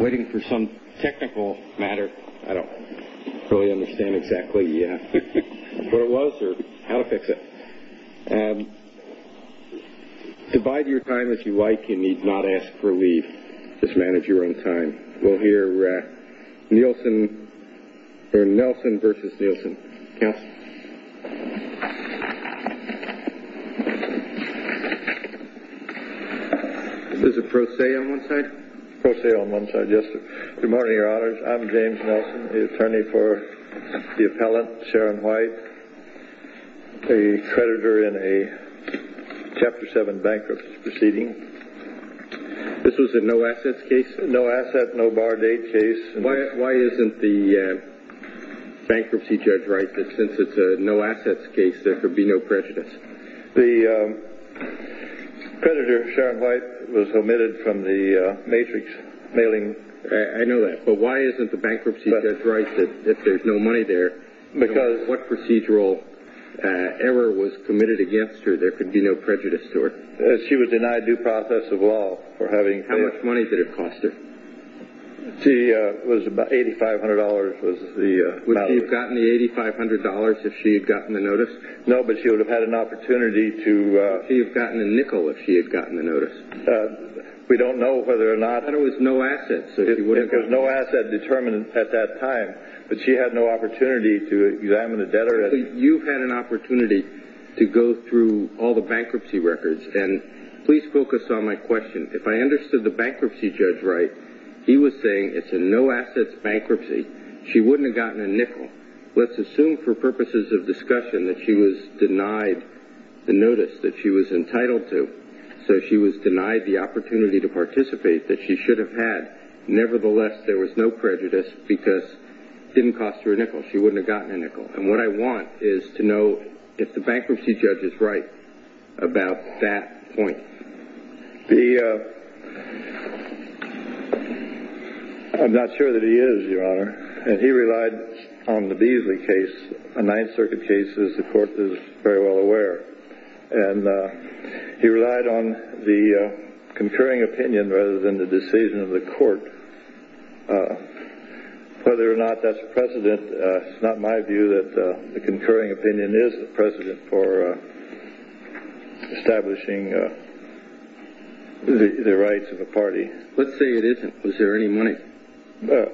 Waiting for some technical matter. I don't really understand exactly what it was or how to fix it. Divide your time as you like and need not ask for leave. Just manage your own time. We'll hear Nielson versus Nielson. Is this a pro se on one side? Pro se on one side, yes. Good morning, your honors. I'm James Nielson, the attorney for the appellant Sharon White, a creditor in a Chapter 7 bankruptcy proceeding. This was a no assets case? No asset, no bar date case. Why isn't the bankruptcy judge right that since it's a no assets case, there could be no prejudice? The creditor Sharon White was omitted from the matrix mailing. I know that, but why isn't the bankruptcy judge right that if there's no money there, what procedural error was committed against her, there could be no prejudice to her? She was denied due process of law for having... How much money did it cost her? It was about $8,500. Would she have gotten the $8,500 if she had gotten the notice? No, but she would have had an opportunity to... Would she have gotten a nickel if she had gotten the notice? We don't know whether or not... But it was no assets. It was no asset determined at that time, but she had no opportunity to examine the debtor. You had an opportunity to go through all the bankruptcy records, and please focus on my question. If I understood the bankruptcy judge right, he was saying it's a no assets bankruptcy, she wouldn't have gotten a nickel. Let's assume for purposes of discussion that she was denied the notice that she was entitled to, so she was denied the opportunity to participate that she should have had. Nevertheless, there was no prejudice because it didn't cost her a nickel. She wouldn't have gotten a nickel. And what I want is to know if the bankruptcy judge is right about that point. The... I'm not sure that he is, Your Honor. And he relied on the Beasley case, a Ninth Circuit case, as the court is very well aware. And he relied on the concurring opinion rather than the decision of the court. Whether or not that's precedent, it's not my view that the concurring opinion is precedent for establishing the rights of a party. Let's say it isn't. Was there any money? Well,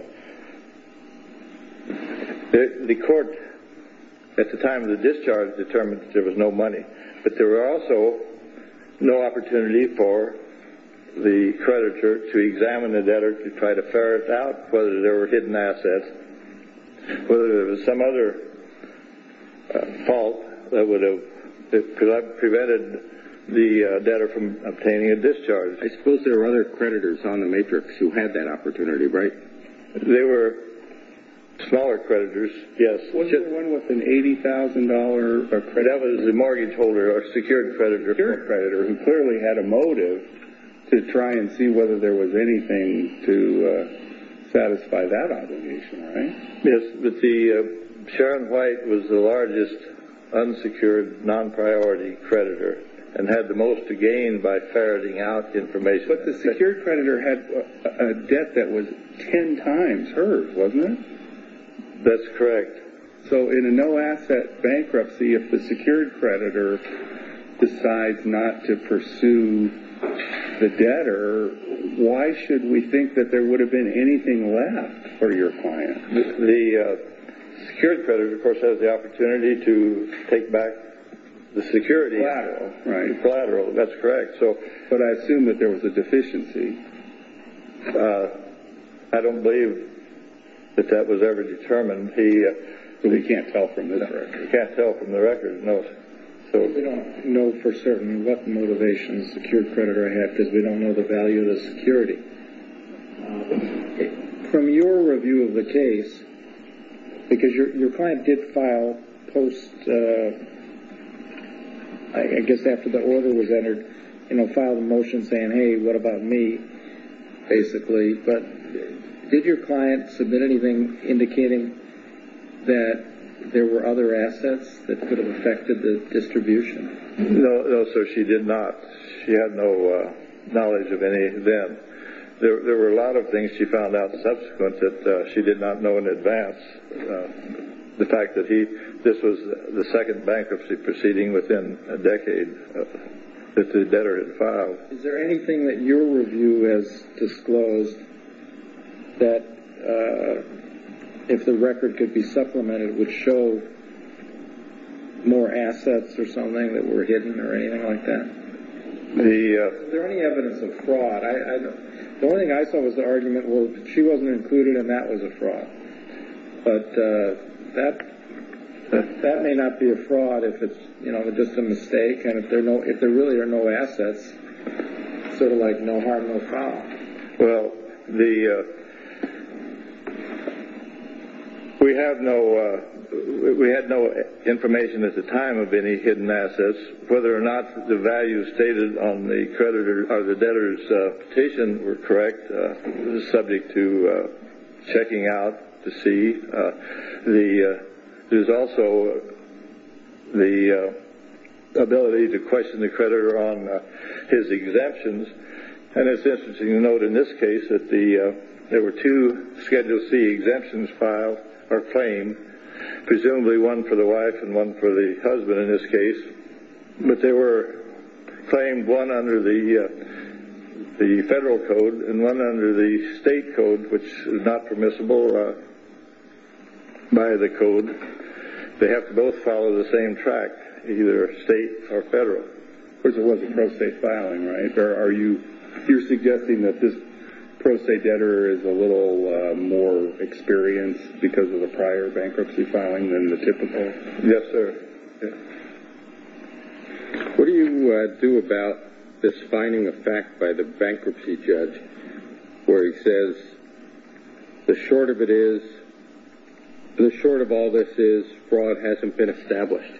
the court at the time of the discharge determined that there was no money. But there were also no opportunity for the creditor to examine the debtor to try to ferret out whether there were hidden assets, whether there was some other fault that would have prevented the debtor from obtaining a discharge. I suppose there were other creditors on the matrix who had that opportunity, right? There were smaller creditors, yes. Wasn't there one with an $80,000 mortgage holder or secured creditor who clearly had a motive to try and see whether there was anything to satisfy that obligation, right? Yes, but Sharon White was the largest unsecured non-priority creditor and had the most to gain by ferreting out information. But the secured creditor had a debt that was ten times hers, wasn't it? That's correct. So in a no-asset bankruptcy, if the secured creditor decides not to pursue the debtor, why should we think that there would have been anything left for your client? The secured creditor, of course, has the opportunity to take back the security collateral. That's correct. But I assume that there was a deficiency. I don't believe that that was ever determined. We can't tell from this record. We can't tell from the record, no. We don't know for certain what motivations the secured creditor had because we don't know the value of the security. From your review of the case, because your client did file post, I guess after the order was entered, filed a motion saying, hey, what about me, basically. But did your client submit anything indicating that there were other assets that could have affected the distribution? No, sir, she did not. She had no knowledge of any then. There were a lot of things she found out subsequent that she did not know in advance. The fact that this was the second bankruptcy proceeding within a decade that the debtor had filed. Is there anything that your review has disclosed that, if the record could be supplemented, would show more assets or something that were hidden or anything like that? Is there any evidence of fraud? The only thing I saw was the argument, well, she wasn't included and that was a fraud. But that may not be a fraud if it's just a mistake. And if there really are no assets, it's sort of like no harm, no foul. Well, we had no information at the time of any hidden assets. Whether or not the values stated on the debtor's petition were correct is subject to checking out to see. There's also the ability to question the creditor on his exemptions. And it's interesting to note in this case that there were two Schedule C exemptions filed or claimed, presumably one for the wife and one for the husband in this case. But they were claimed, one under the federal code and one under the state code, which is not permissible by the code. They have to both follow the same track, either state or federal. Of course, it wasn't pro se filing, right? You're suggesting that this pro se debtor is a little more experienced because of the prior bankruptcy filing than the typical? Yes, sir. What do you do about this finding of fact by the bankruptcy judge where he says the short of all this is fraud hasn't been established?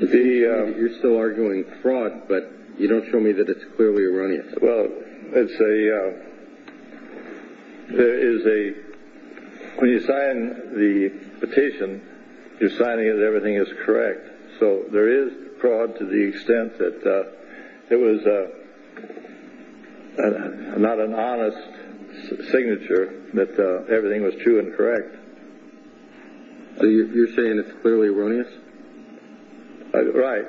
You're still arguing fraud, but you don't show me that it's clearly erroneous. Well, when you sign the petition, you're signing that everything is correct. So there is fraud to the extent that it was not an honest signature that everything was true and correct. So you're saying it's clearly erroneous? Right.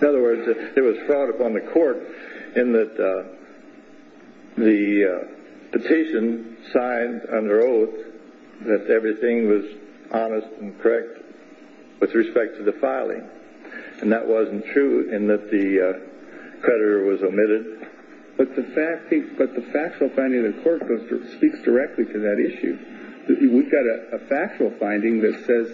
In other words, it was fraud upon the court in that the petition signed under oath that everything was honest and correct with respect to the filing. And that wasn't true in that the creditor was omitted. But the factual finding of the court speaks directly to that issue. We've got a factual finding that says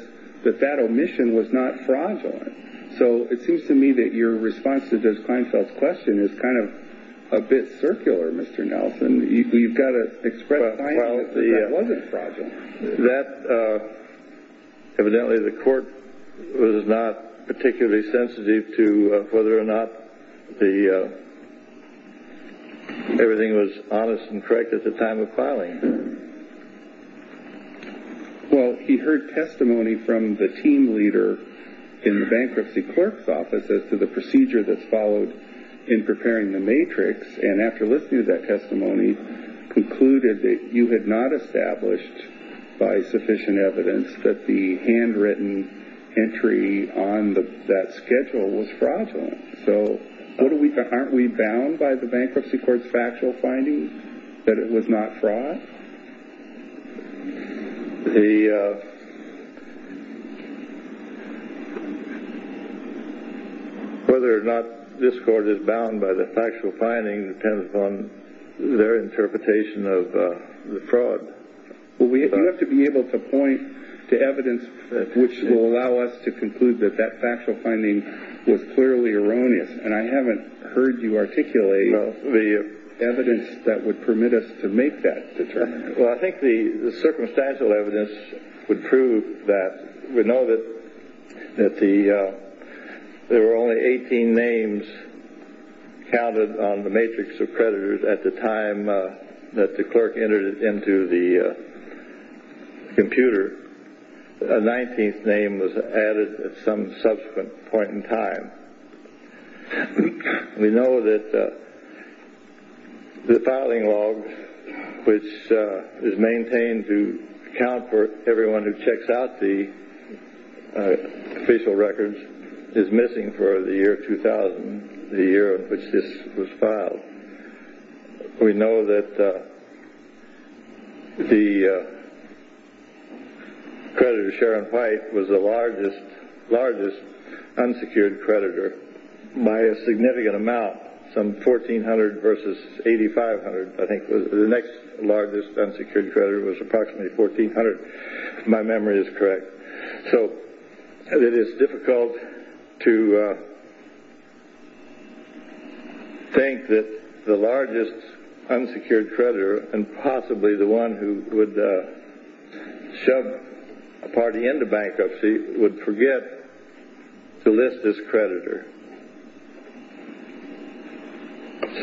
that that omission was not fraudulent. So it seems to me that your response to Judge Kleinfeld's question is kind of a bit circular, Mr. Nelson. You've got to express the finding that that wasn't fraudulent. Evidently, the court was not particularly sensitive to whether or not everything was honest and correct at the time of filing. Well, he heard testimony from the team leader in the bankruptcy clerk's office as to the procedure that's followed in preparing the matrix. And after listening to that testimony, concluded that you had not established by sufficient evidence that the handwritten entry on that schedule was fraudulent. So aren't we bound by the bankruptcy court's factual findings that it was not fraud? Whether or not this court is bound by the factual finding depends upon their interpretation of the fraud. Well, you have to be able to point to evidence which will allow us to conclude that that factual finding was clearly erroneous. And I haven't heard you articulate the evidence that would permit us to make that determination. Well, I think the circumstantial evidence would prove that. We know that there were only 18 names counted on the matrix of predators at the time that the clerk entered it into the computer. A 19th name was added at some subsequent point in time. We know that the filing log, which is maintained to account for everyone who checks out the official records, is missing for the year 2000, the year in which this was filed. We know that the creditor, Sharon White, was the largest unsecured creditor by a significant amount, some 1,400 versus 8,500. I think the next largest unsecured creditor was approximately 1,400, if my memory is correct. So it is difficult to think that the largest unsecured creditor, and possibly the one who would shove a party into bankruptcy, would forget to list this creditor.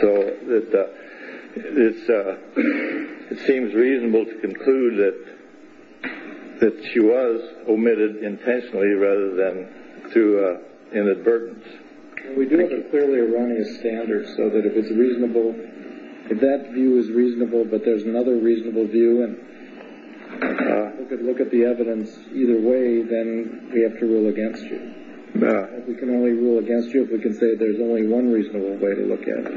So it seems reasonable to conclude that she was omitted intentionally rather than through inadvertence. We do have a clearly erroneous standard so that if it's reasonable, if that view is reasonable but there's another reasonable view, and people could look at the evidence either way, then we have to rule against you. We can only rule against you if we can say there's only one reasonable way to look at it.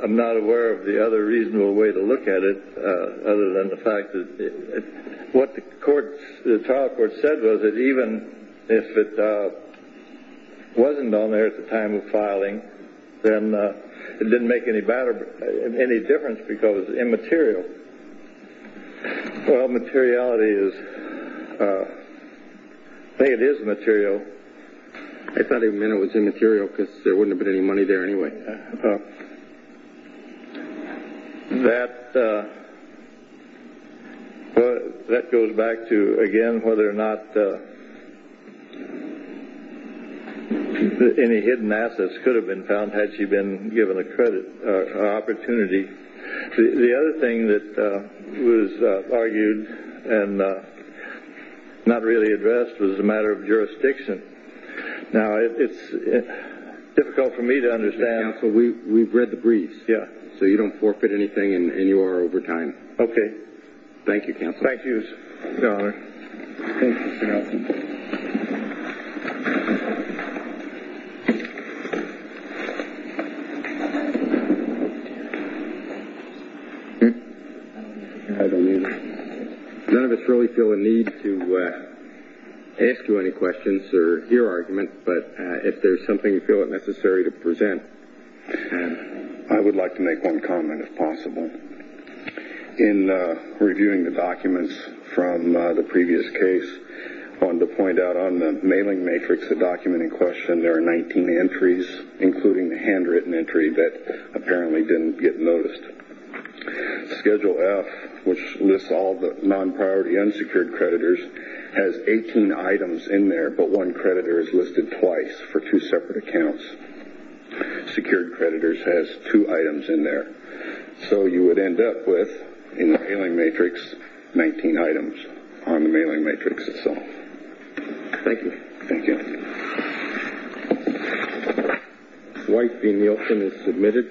I am not aware of the other reasonable way to look at it other than the fact that what the trial court said was that even if it wasn't on there at the time of filing, then it didn't make any difference because it's immaterial. I think it is material. I thought he meant it was immaterial because there wouldn't have been any money there anyway. That goes back to, again, whether or not any hidden assets could have been found had she been given an opportunity. The other thing that was argued and not really addressed was the matter of jurisdiction. Now, it's difficult for me to understand. Counsel, we've read the briefs, so you don't forfeit anything and you are over time. Okay. Thank you, Counsel. Thank you, Your Honor. Thank you, Counsel. None of us really feel a need to ask you any questions or hear argument, but if there's something you feel it necessary to present. I would like to make one comment, if possible. In reviewing the documents from the previous case, I wanted to point out on the mailing matrix, the document in question, there are 19 entries, including the handwritten entry that apparently didn't get noticed. Schedule F, which lists all the non-priority unsecured creditors, has 18 items in there, but one creditor is listed twice for two separate accounts. Secured creditors has two items in there. So you would end up with, in the mailing matrix, 19 items on the mailing matrix itself. Thank you. Thank you. Dwight B. Nielsen is submitted. Thank you.